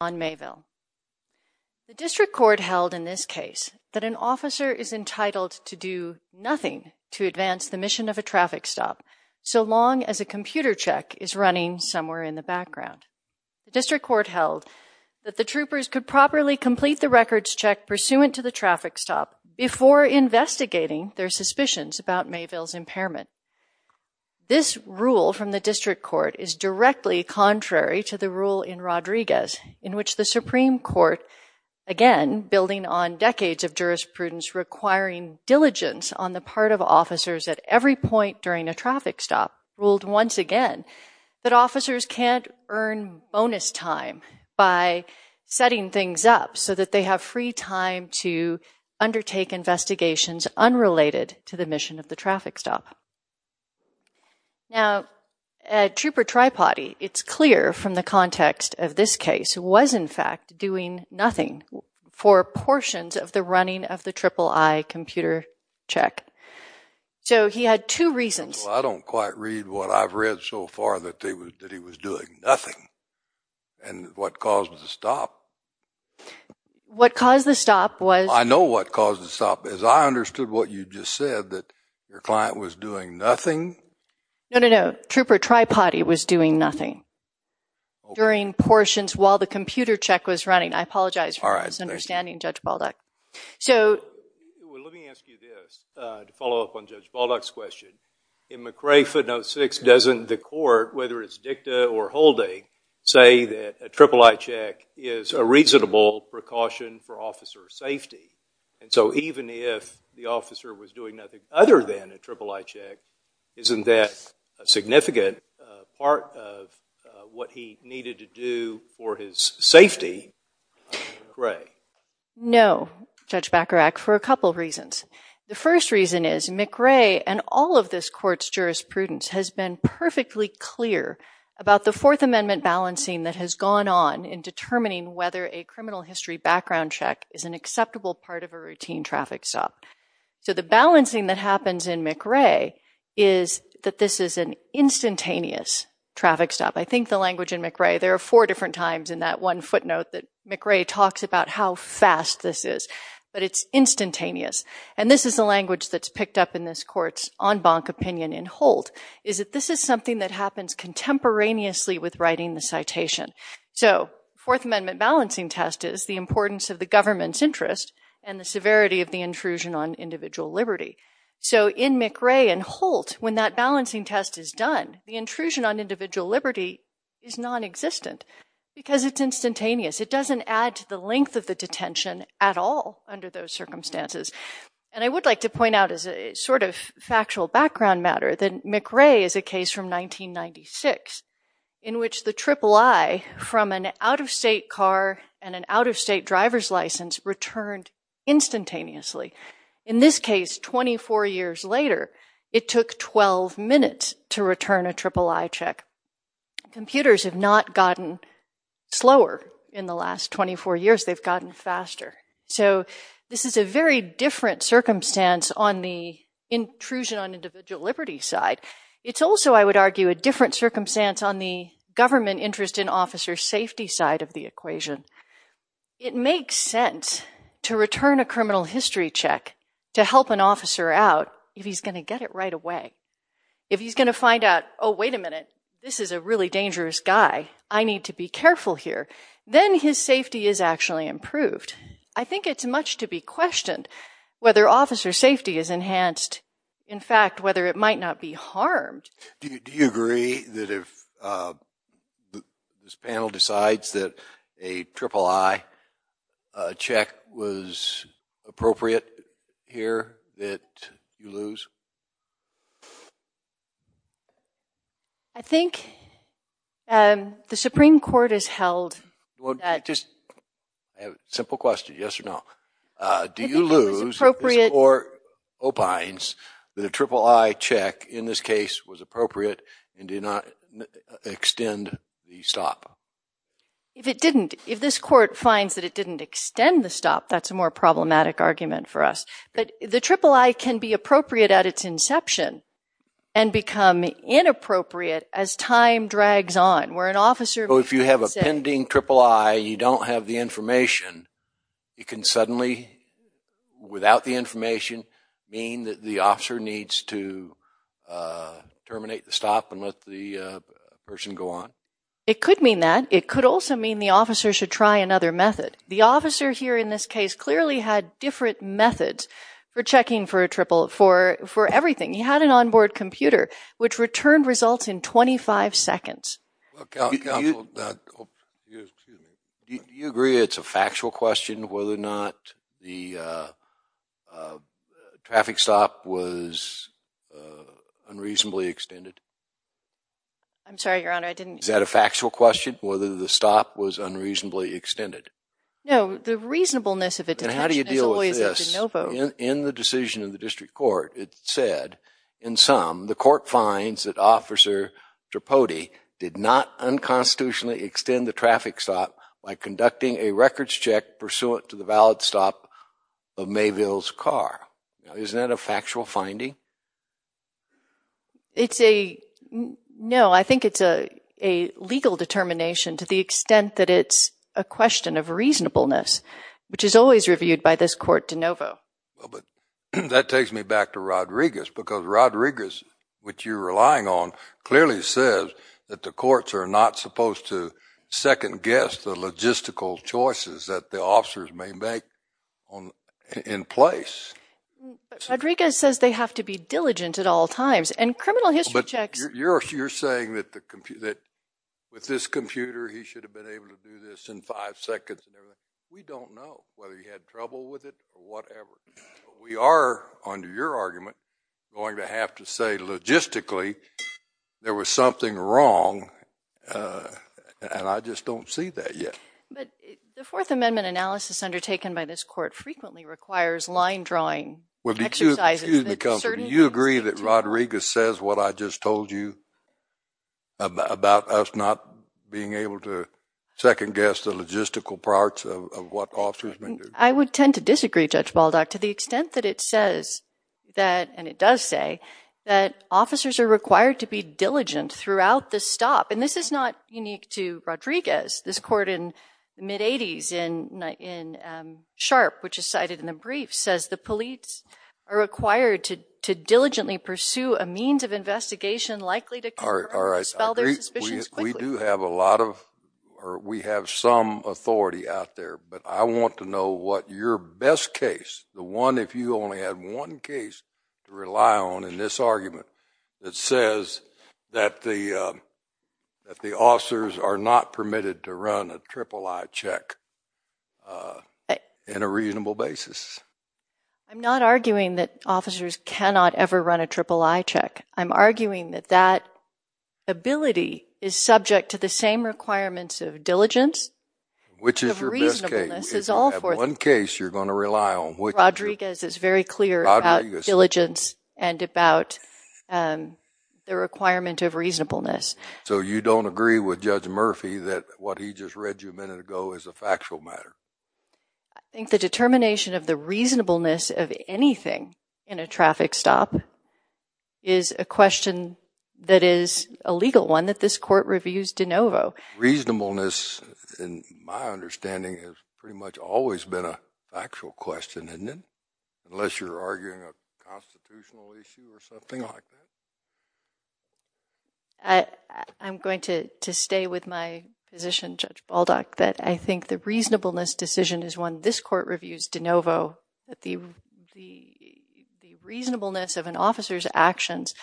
on Mayville. The district court held in this case that an officer is entitled to do nothing to advance the mission of a traffic stop so long as a computer check is running somewhere in the background. The district court held that the troopers could properly complete the records check pursuant to the traffic stop before investigating their suspicions about Mayville's impairment. This rule from the district court is directly contrary to the rule in Rodriguez in which the Supreme Court, again building on decades of jurisprudence requiring diligence on the part of officers at every point during a traffic stop, ruled once again that officers can't earn bonus time by setting things up so that they have free time to undertake investigations unrelated to the mission of the traffic stop. Now, at Trooper Tripody, it's clear from the context of this case, was in fact doing nothing for portions of the running of the triple I computer check. So he had two reasons. I don't quite read what I've read so far that he was doing nothing and what caused the stop. What caused the stop was... I know what caused the stop. As I understood what you just said, that your client was doing nothing? No, no, no. Trooper Tripody was doing nothing during portions while the computer check was running. I apologize for misunderstanding Judge Baldock. Let me ask you this to follow up on Judge Baldock's question. In McRae footnote 6, doesn't the court, whether it's dicta or holding, say that a triple I check is a reasonable precaution for officer safety? And so even if the officer was doing nothing other than a triple I check, isn't that a significant part of what he needed to do for his safety? No, Judge Bacharach, for a couple of reasons. The first reason is McRae and all of this court's jurisprudence has been perfectly clear about the Fourth Amendment balancing that has gone on in determining whether a criminal history background check is an acceptable part of a routine traffic stop. So the balancing that happens in McRae is that this is an instantaneous traffic stop. I think the language in McRae, there are four different times in that one footnote that McRae talks about how fast this is, but it's instantaneous. And this is the language that's picked up in this court's en banc opinion in Holt, is that this is something that happens contemporaneously with writing the citation. So Fourth Amendment balancing test is the importance of the government's interest and the severity of the intrusion on individual liberty. So in McRae and Holt, when that balancing test is done, the intrusion on individual liberty is nonexistent because it's instantaneous. It doesn't add to the length of the detention at all under those circumstances. And I would like to point out as a sort of factual background matter that McRae is a case from 1996 in which the III from an out-of-state car and an out-of-state driver's license returned instantaneously. In this case, 24 years later, it took 12 minutes to return a III check. Computers have not gotten slower in the last 24 years. They've gotten faster. So this is a very different circumstance on the intrusion on individual liberty side. It's also, I would argue, a different circumstance on the government interest in officer safety side of the equation. It makes sense to return a criminal history check to help an officer out if he's going to get it right away. If he's going to find out, oh, wait a minute, this is a really dangerous guy. I need to be careful here. Then his safety is actually improved. I think it's much to be questioned whether officer safety is enhanced. In fact, whether it might not be harmed. Do you agree that if this panel decides that a III check was appropriate here that you lose? I think the Supreme Court has held that. Simple question, yes or no. Do you lose or opines that a III check in this case was appropriate and did not extend the stop? If it didn't, if this court finds that it didn't extend the stop, that's a more problematic argument for us. But the III can be appropriate at its inception and become inappropriate as time drags on where an officer If you have a pending III and you don't have the information, it can suddenly without the information mean that the officer needs to terminate the stop and let the person go on? It could mean that. It could also mean the officer should try another method. The officer here in this case clearly had different methods for checking for a III, for everything. He had an on-board computer which returned results in 25 seconds. Do you agree it's a factual question whether or not the traffic stop was unreasonably extended? I'm sorry, Your Honor, I didn't Is that a factual question, whether the stop was unreasonably extended? No, the reasonableness of it How do you deal with this? In the decision of the district court, it said, in sum, the court finds that Officer Tripodi did not unconstitutionally extend the traffic stop by conducting a records check pursuant to the valid stop of Mayville's car. Now, isn't that a factual finding? It's a, no, I think it's a legal determination to the extent that it's a question of reasonableness, which is always reviewed by this court de novo. That takes me back to Rodriguez, because Rodriguez, which you're relying on, clearly says that the courts are not supposed to second-guess the logistical choices that the officers may make in place. Rodriguez says they have to be diligent at all times, and criminal history checks But you're saying that with this computer, he should have been able to do this in five seconds and everything. We don't know whether he had trouble with it or whatever. We are, under your argument, going to have to say, logistically, there was something wrong, and I just don't see that yet. But the Fourth Amendment analysis undertaken by this court frequently requires line-drawing exercises. Well, excuse me, Counselor, do you agree that Rodriguez says what I just told you about us not being able to second-guess the logistical parts of what officers may do? I would tend to disagree, Judge Baldock, to the extent that it says that, and it does say, that officers are required to be diligent throughout the stop. And this is not unique to Rodriguez. This court in the mid-'80s in Sharp, which is cited in the brief, says the police are required to diligently pursue a means of investigation likely to confirm or dispel their suspicions quickly. We do have a lot of, or we have some authority out there, but I want to know what your best case, the one if you only had one case to rely on in this argument, that says that the officers are not permitted to run a triple-I check in a reasonable basis? I'm not arguing that officers cannot ever run a triple-I check. I'm arguing that that ability is subject to the same requirements of diligence. Which is your best case? Of reasonableness, is all four. If you have one case you're going to rely on, which is? Rodriguez is very clear about diligence and about the requirement of reasonableness. So you don't agree with Judge Murphy that what he just read you a minute ago is a factual matter? I think the determination of the reasonableness of anything in a traffic stop is a question that is a legal one that this court reviews de novo. Reasonableness, in my understanding, has pretty much always been a factual question, isn't it? Unless you're arguing a constitutional issue or something like that? I'm going to stay with my position, Judge Baldock, that I think the reasonableness decision is one this court reviews de novo. The reasonableness of an officer's actions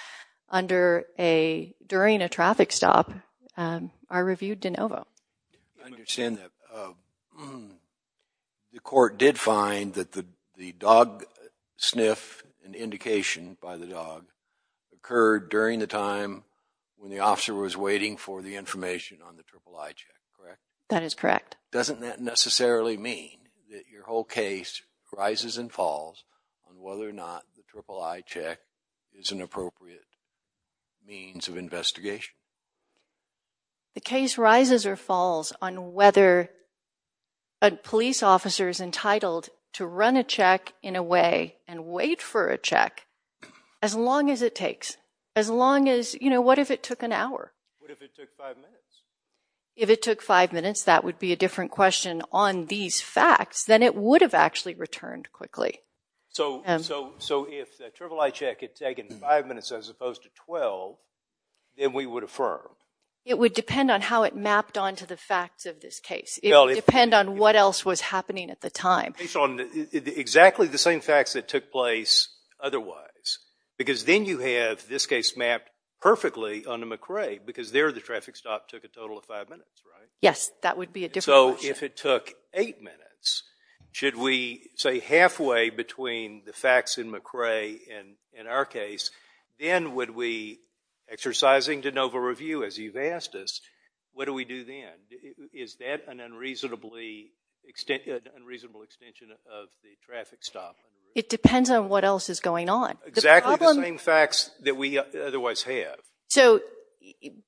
under a, during a traffic stop, are reviewed de novo. I understand that. The court did find that the dog sniff, an indication by the dog, occurred during the time when the officer was waiting for the information on the III check, correct? That is correct. Doesn't that necessarily mean that your whole case rises and falls on whether or not the III check is an appropriate means of investigation? The case rises or falls on whether a police officer is entitled to run a check in a way and wait for a check as long as it takes. As long as, you know, what if it took an hour? What if it took five minutes? If it took five minutes, that would be a different question on these facts than it would have actually returned quickly. So if the III check had taken five minutes as opposed to 12, then we would affirm? It would depend on how it mapped onto the facts of this case. It would depend on what else was happening at the time. Based on exactly the same facts that took place otherwise, because then you have this case mapped perfectly onto McRae, because there the traffic stop took a total of five minutes, right? Yes, that would be a different question. So if it took eight minutes, should we say halfway between the facts in McRae and in our case, then would we, exercising de novo review as you've asked us, what do we do then? Is that an unreasonable extension of the traffic stop? It depends on what else is going on. Exactly the same facts that we otherwise have. So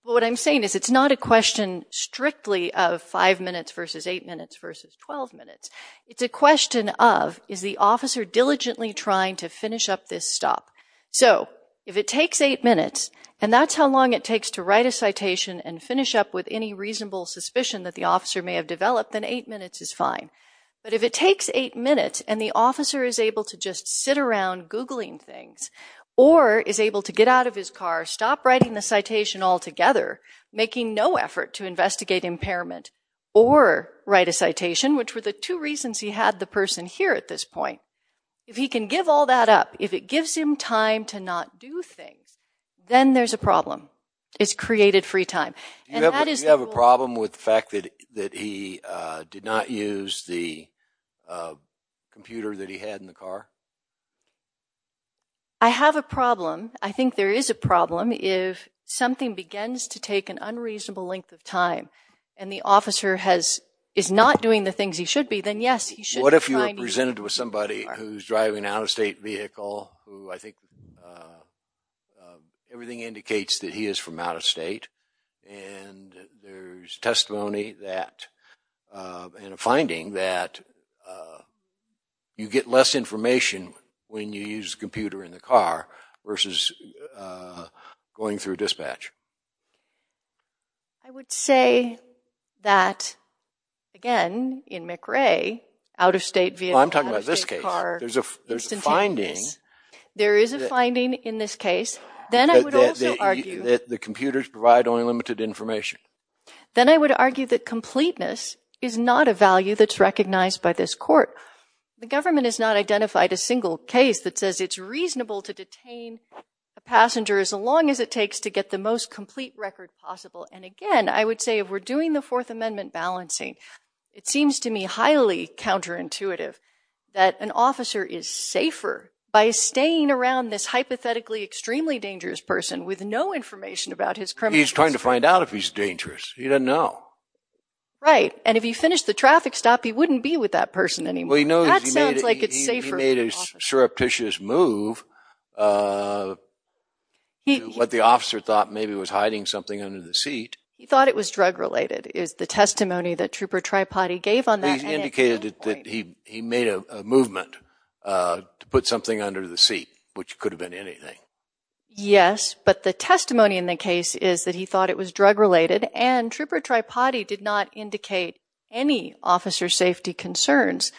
what I'm saying is it's not a question strictly of five minutes versus eight minutes versus 12 minutes. It's a question of, is the officer diligently trying to finish up this stop? So if it takes eight minutes, and that's how long it takes to write a citation and finish up with any reasonable suspicion that the officer may have developed, then eight minutes is fine. But if it takes eight minutes and the officer is able to just sit around Googling things, or is able to get out of his car, stop writing the citation altogether, making no effort to investigate impairment, or write a citation, which were the two reasons he had the person here at this point, if he can give all that up, if it gives him time to not do things, then there's a problem. It's created free time. Do you have a problem with the fact that he did not use the computer that he had in the car? I have a problem. I think there is a problem. If something begins to take an unreasonable length of time, and the officer is not doing the things he should be, then yes, he should be trying to... Everything indicates that he is from out-of-state, and there's testimony that, and a finding that you get less information when you use the computer in the car, versus going through dispatch. I would say that, again, in McRae, out-of-state vehicle, out-of-state car... Well, I'm talking about this case. There's a finding... ...that the computers provide only limited information. Then I would argue that completeness is not a value that's recognized by this court. The government has not identified a single case that says it's reasonable to detain a passenger as long as it takes to get the most complete record possible. And again, I would say, if we're doing the Fourth Amendment balancing, it seems to me highly counterintuitive that an officer is safer by staying around this hypothetically extremely dangerous person with no information about his criminal history. He's trying to find out if he's dangerous. He doesn't know. Right. And if he finished the traffic stop, he wouldn't be with that person anymore. Well, he knows he made a... That sounds like it's safer for an officer. ...he made a surreptitious move to what the officer thought maybe was hiding something under the seat. He thought it was drug-related, is the testimony that Trooper Tripotty gave on that. He indicated that he made a movement to put something under the seat, which could have been anything. Yes, but the testimony in the case is that he thought it was drug-related, and Trooper Tripotty did not indicate any officer safety concerns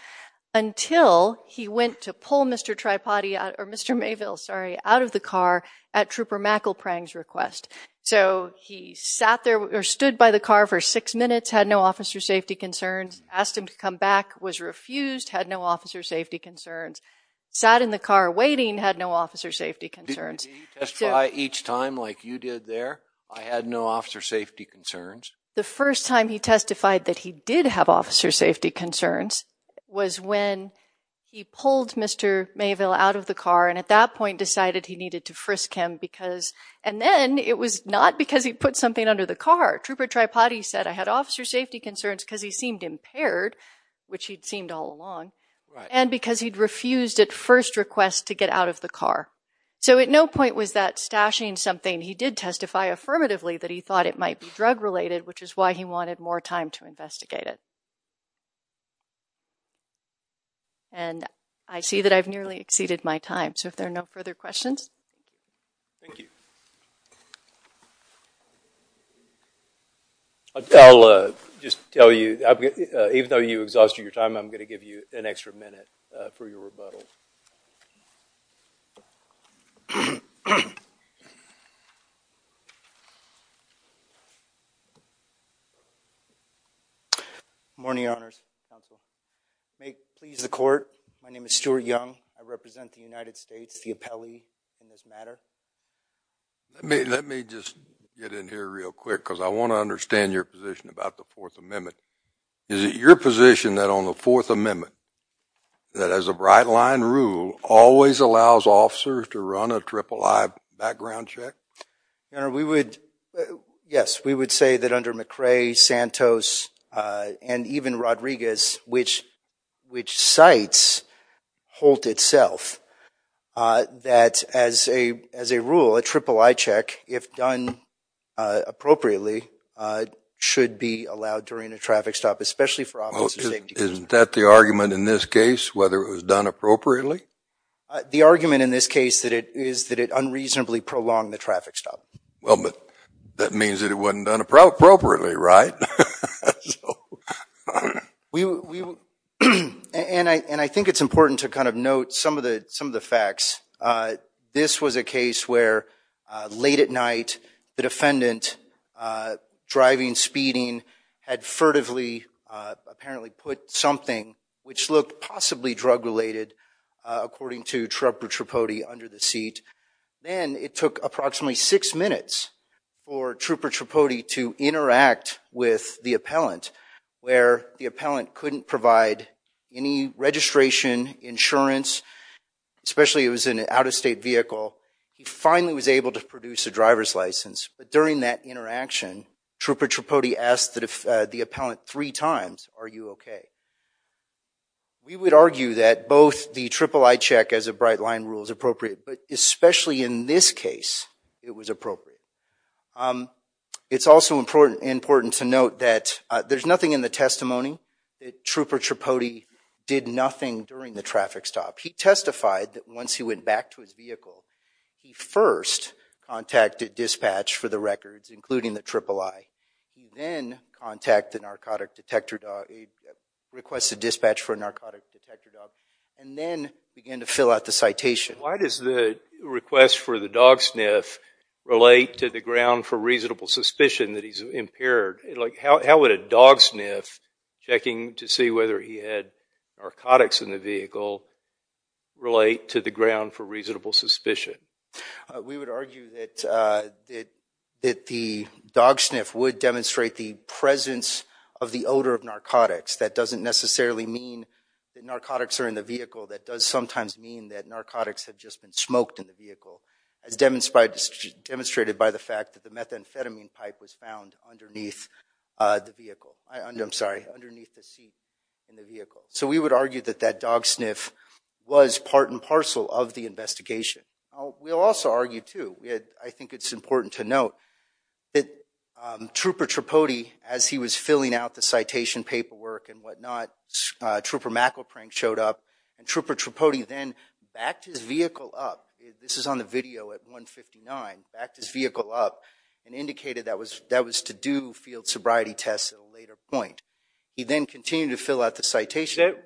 until he went to pull Mr. Tripotty out, or Mr. Mayville, sorry, out of the car at Trooper McElprang's request. So he sat there, or stood by the car for six minutes, had no officer safety concerns, asked him to come back, was refused, had no officer safety concerns. Sat in the car waiting, had no officer safety concerns. Did he testify each time like you did there, I had no officer safety concerns? The first time he testified that he did have officer safety concerns was when he pulled Mr. Mayville out of the car, and at that point decided he needed to frisk him because... And then it was not because he put something under the car. Trooper Tripotty said, I had officer safety concerns because he seemed impaired, which he'd seemed all along, and because he'd refused at first request to get out of the car. So at no point was that stashing something. He did testify affirmatively that he thought it might be drug-related, which is why he wanted more time to investigate it. And I see that I've nearly exceeded my time, so if there are no further questions... Thank you. I'll just tell you, even though you exhausted your time, I'm going to give you an extra minute for your rebuttal. Good morning, Your Honors. May it please the Court, my name is Stuart Young. I represent the United States, the appellee in this matter. Let me just get in here real quick, because I want to understand your position about the Fourth Amendment. Is it your position that on the Fourth Amendment, that as a bright line rule, always allows officers to run a triple-I background check? Your Honor, we would... Yes, we would say that under McRae, Santos, and even Rodriguez, which cites Holt itself, that as a rule, a triple-I check, if done appropriately, should be allowed during a traffic stop, especially for officers... Well, isn't that the argument in this case, whether it was done appropriately? The argument in this case is that it unreasonably prolonged the traffic stop. Well, but that means that it wasn't done appropriately, right? And I think it's important to kind of note some of the facts. This was a case where late at night, the defendant, driving, speeding, had furtively, apparently put something, which looked possibly drug-related, according to Trub or Tripodi, under the seat. Then it took approximately six minutes for Trub or Tripodi to interact with the appellant, where the appellant couldn't provide any registration, insurance, especially it was an out-of-state vehicle. He finally was able to produce a driver's license, but during that interaction, Trub or Tripodi asked the appellant three times, are you okay? We would argue that both the triple-I check as a bright line rule is appropriate, but it was appropriate. It's also important to note that there's nothing in the testimony that Trub or Tripodi did nothing during the traffic stop. He testified that once he went back to his vehicle, he first contacted dispatch for the records, including the triple-I. Then requested dispatch for a narcotic detector dog, and then began to fill out the citation. Why does the request for the dog sniff relate to the ground for reasonable suspicion that he's impaired? How would a dog sniff, checking to see whether he had narcotics in the vehicle, relate to the ground for reasonable suspicion? We would argue that the dog sniff would demonstrate the presence of the odor of narcotics. That doesn't necessarily mean that narcotics are in the vehicle. That does sometimes mean that narcotics have just been smoked in the vehicle, as demonstrated by the fact that the methamphetamine pipe was found underneath the vehicle. I'm sorry, underneath the seat in the vehicle. We would argue that that dog sniff was part and parcel of the investigation. We'll also argue, too, I think it's important to note that Trub or Tripodi, as he was filling out the citation paperwork and whatnot, Trub or McElprank showed up, and Trub or Tripodi then backed his vehicle up. This is on the video at 159. Backed his vehicle up and indicated that was to do field sobriety tests at a later point. He then continued to fill out the citation.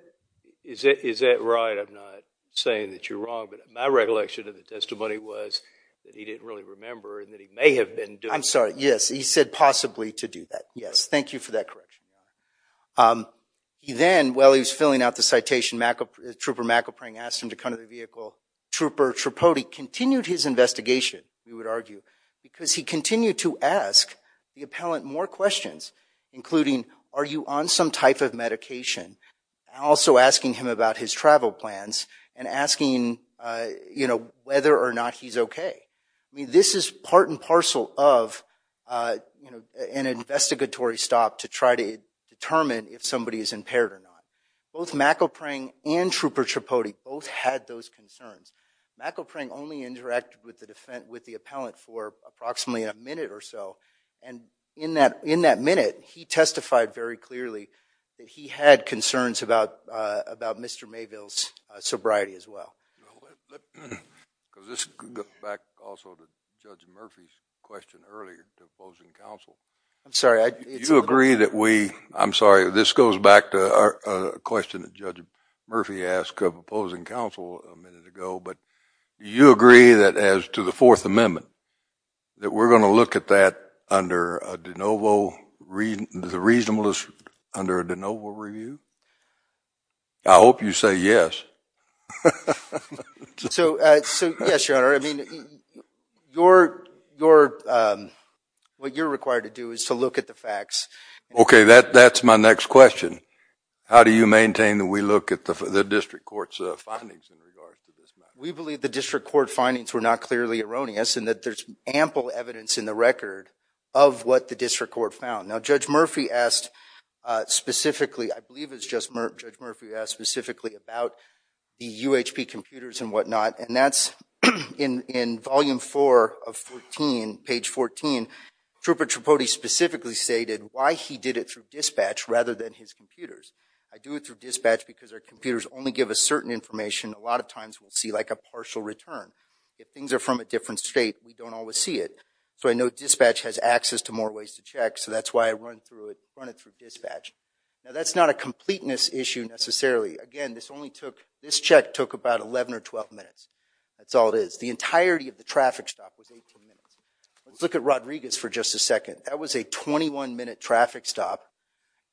Is that right? I'm not saying that you're wrong, but my recollection of the testimony was that he didn't really remember and that he may have been doing it. I'm sorry, yes. He said possibly to do that. Yes. Thank you for that correction. He then, while he was filling out the citation, Trub or McElprank asked him to come to the vehicle. Trub or Tripodi continued his investigation, we would argue, because he continued to ask the appellant more questions, including, are you on some type of medication? Also asking him about his travel plans and asking whether or not he's okay. This is part and parcel of an investigatory stop to try to determine if somebody is impaired or not. Both McElprank and Trub or Tripodi both had those concerns. McElprank only interacted with the appellant for approximately a minute or so, and in that minute, he testified very clearly that he had concerns about Mr. Mayville's sobriety as well. Also, Judge Murphy's question earlier to opposing counsel. I'm sorry. Do you agree that we, I'm sorry, this goes back to a question that Judge Murphy asked of opposing counsel a minute ago, but do you agree that as to the Fourth Amendment, that we're going to look at that under a de novo, the reasonableness under a de novo review? I hope you say yes. So, yes, Your Honor. I mean, what you're required to do is to look at the facts. Okay, that's my next question. How do you maintain that we look at the district court's findings in regards to this matter? We believe the district court findings were not clearly erroneous and that there's ample evidence in the record of what the district court found. Now, Judge Murphy asked specifically, I believe it was Judge Murphy who asked specifically about the UHP computers and whatnot, and that's in Volume 4 of 14, page 14. Trooper Tripodi specifically stated why he did it through dispatch rather than his computers. I do it through dispatch because our computers only give us certain information. A lot of times we'll see like a partial return. If things are from a different state, we don't always see it. So I know dispatch has access to more ways to check, so that's why I run it through dispatch. Now, that's not a completeness issue necessarily. Again, this check took about 11 or 12 minutes. That's all it is. The entirety of the traffic stop was 18 minutes. Let's look at Rodriguez for just a second. That was a 21-minute traffic stop.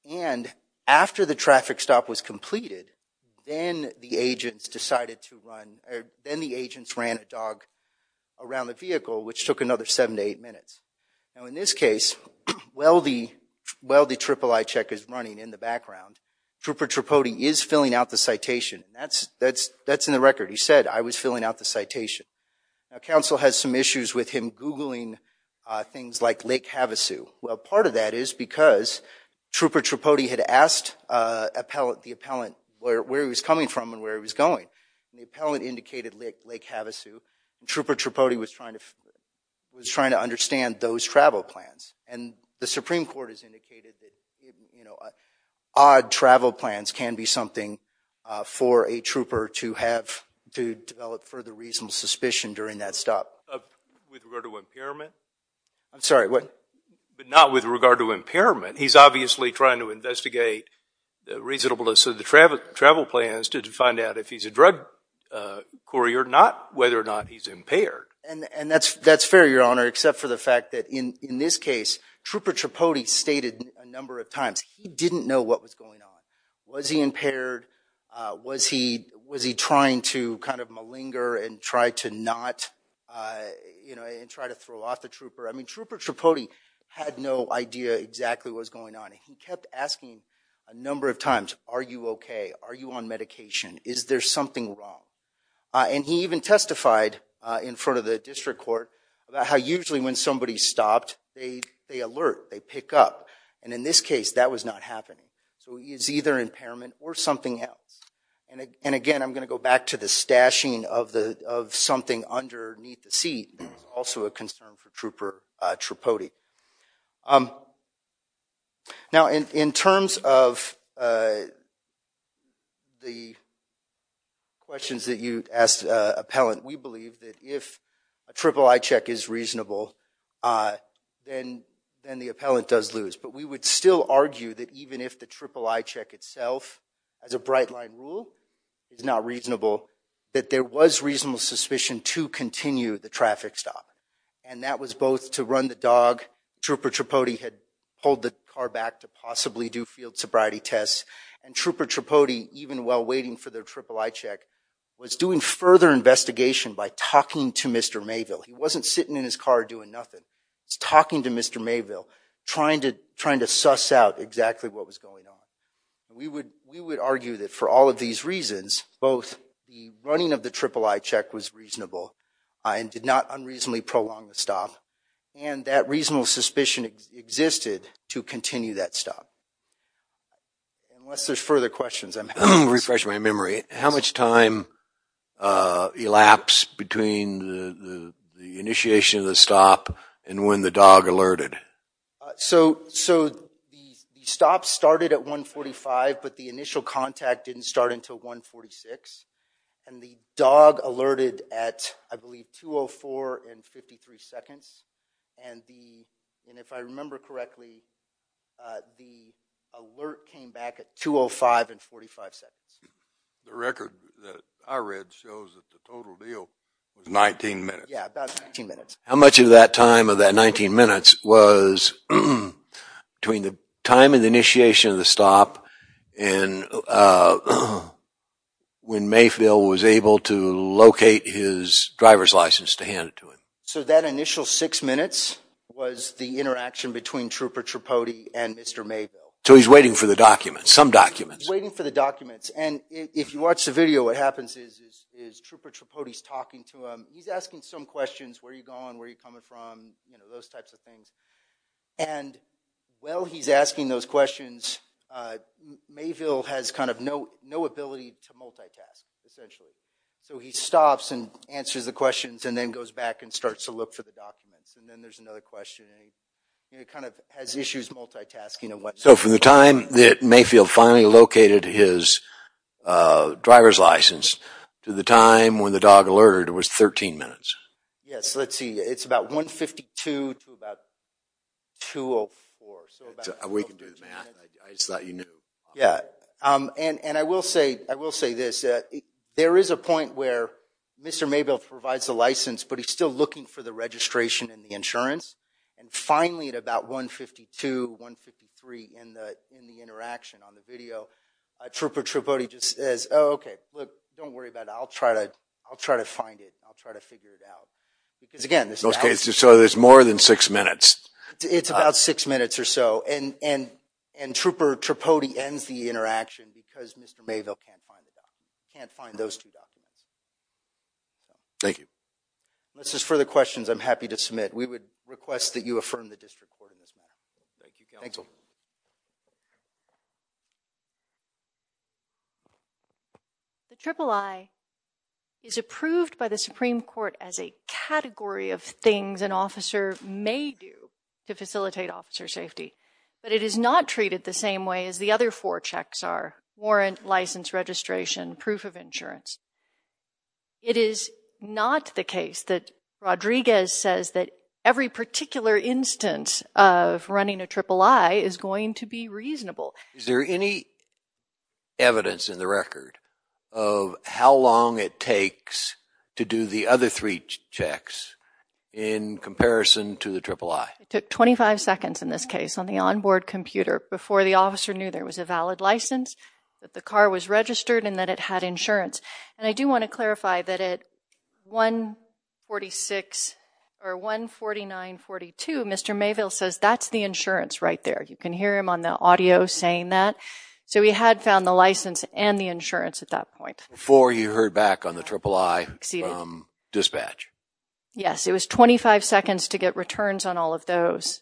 And after the traffic stop was completed, then the agents decided to run, or then the agents ran a dog around the vehicle, which took another 7 to 8 minutes. Now, in this case, while the III check is running in the background, Trooper Tripodi is filling out the citation. That's in the record. He said, I was filling out the citation. Now, counsel has some issues with him Googling things like Lake Havasu. Well, part of that is because Trooper Tripodi had asked the appellant where he was coming from and where he was going. The appellant indicated Lake Havasu. Trooper Tripodi was trying to understand those travel plans. And the Supreme Court has indicated that odd travel plans can be something for a trooper to have to develop further reasonable suspicion during that stop. With regard to impairment? I'm sorry, what? But not with regard to impairment. He's obviously trying to investigate the reasonableness of the travel plans to find out if he's a drug courier, not whether or not he's impaired. And that's fair, Your Honor, except for the fact that in this case, Trooper Tripodi stated a number of times he didn't know what was going on. Was he impaired? Was he trying to kind of malinger and try to not, you know, and try to throw off the trooper? I mean, Trooper Tripodi had no idea exactly what was going on. He kept asking a number of times, are you OK? Are you on medication? Is there something wrong? And he even testified in front of the district court about how usually when somebody stopped, they alert, they pick up. And in this case, that was not happening. So he is either impairment or something else. And again, I'm going to go back to the stashing of the of something underneath the seat. Also a concern for Trooper Tripodi. Now, in terms of the questions that you asked appellant, we believe that if a triple eye check is reasonable, then the appellant does lose. But we would still argue that even if the triple eye check itself as a bright line rule is not reasonable, that there was reasonable suspicion to continue the traffic stop. And that was both to run the dog. Trooper Tripodi had pulled the car back to possibly do field sobriety tests. And Trooper Tripodi, even while waiting for their triple eye check, was doing further investigation by talking to Mr. Mayville. He wasn't sitting in his car doing nothing. It's talking to Mr. Mayville, trying to trying to suss out exactly what was going on. We would we would argue that for all of these reasons, both the running of the triple eye check was reasonable and did not unreasonably prolong the stop. And that reasonable suspicion existed to continue that stop. Unless there's further questions, I'm refreshing my memory. How much time elapsed between the initiation of the stop and when the dog alerted? So the stop started at 145, but the initial contact didn't start until 146. And the dog alerted at, I believe, 204 and 53 seconds. And if I remember correctly, the alert came back at 205 and 45 seconds. The record that I read shows that the total deal was 19 minutes. Yeah, about 19 minutes. How much of that time of that 19 minutes was between the time of the initiation of the stop and when Mayville was able to locate his driver's license to hand it to him? So that initial six minutes was the interaction between Trooper Tripodi and Mr. Mayville. So he's waiting for the documents, some documents. Waiting for the documents. And if you watch the video, what happens is Trooper Tripodi is talking to him. He's asking some questions, where are you going, where are you coming from, those types of things. And while he's asking those questions, Mayville has kind of no ability to multitask, essentially. So he stops and answers the questions and then goes back and starts to look for the documents. And then there's another question. He kind of has issues multitasking. So from the time that Mayville finally located his driver's license to the time when the dog alerted was 13 minutes. Yes, let's see. It's about 152 to about 204. We can do the math. I just thought you knew. Yeah, and I will say this. There is a point where Mr. Mayville provides the license, but he's still looking for the registration and the insurance. And finally, at about 152, 153 in the interaction on the video, Trooper Tripodi just says, oh, okay, look, don't worry about it. I'll try to find it. I'll try to figure it out. So there's more than six minutes. It's about six minutes or so. And Trooper Tripodi ends the interaction because Mr. Mayville can't find the documents, can't find those two documents. Thank you. This is for the questions I'm happy to submit. We would request that you affirm the district court in this matter. Thank you. The Triple I is approved by the Supreme Court as a category of things an officer may do to facilitate officer safety. But it is not treated the same way as the other four checks are warrant, license, registration, proof of insurance. It is not the case that Rodriguez says that every particular instance of running a Triple I is going to be reasonable. Is there any evidence in the record of how long it takes to do the other three checks in comparison to the Triple I? It took 25 seconds in this case on the onboard computer before the officer knew there was a valid license, that the car was registered, and that it had insurance. And I do want to clarify that at 1.46 or 1.49.42, Mr. Mayville says that's the insurance right there. You can hear him on the audio saying that. So he had found the license and the insurance at that point. Before you heard back on the Triple I from dispatch? Yes. It was 25 seconds to get returns on all of those.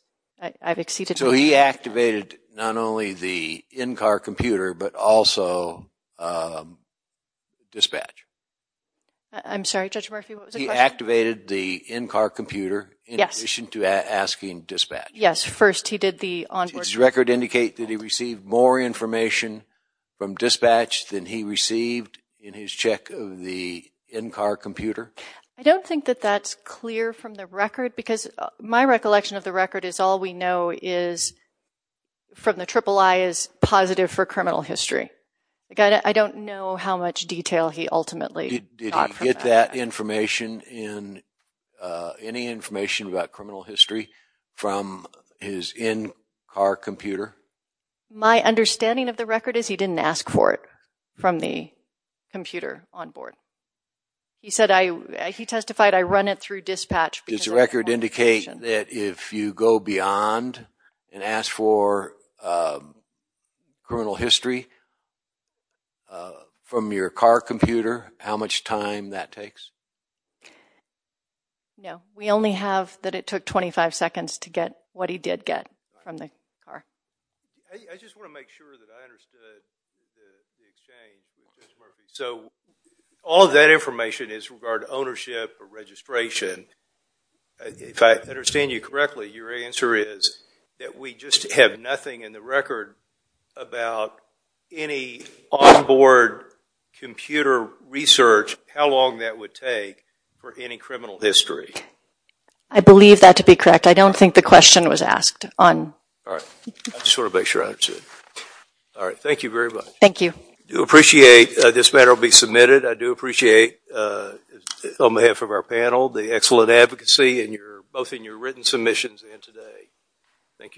So he activated not only the in-car computer but also dispatch. I'm sorry, Judge Murphy, what was the question? He activated the in-car computer in addition to asking dispatch. Yes, first he did the onboard computer. Does his record indicate that he received more information from dispatch than he received in his check of the in-car computer? I don't think that that's clear from the record because my recollection of the record is all we know is from the Triple I is positive for criminal history. I don't know how much detail he ultimately got from that. Did he get that information, any information about criminal history from his in-car computer? My understanding of the record is he didn't ask for it from the computer onboard. He testified, I run it through dispatch. Does the record indicate that if you go beyond and ask for criminal history from your car computer, how much time that takes? No, we only have that it took 25 seconds to get what he did get from the car. I just want to make sure that I understood the exchange, Judge Murphy. So all that information is regarding ownership or registration. If I understand you correctly, your answer is that we just have nothing in the record about any onboard computer research, how long that would take for any criminal history. I believe that to be correct. I don't think the question was asked. I just want to make sure I understood. Thank you very much. Thank you. I do appreciate this matter will be submitted. I do appreciate, on behalf of our panel, the excellent advocacy both in your written submissions and today. Thank you, counsel.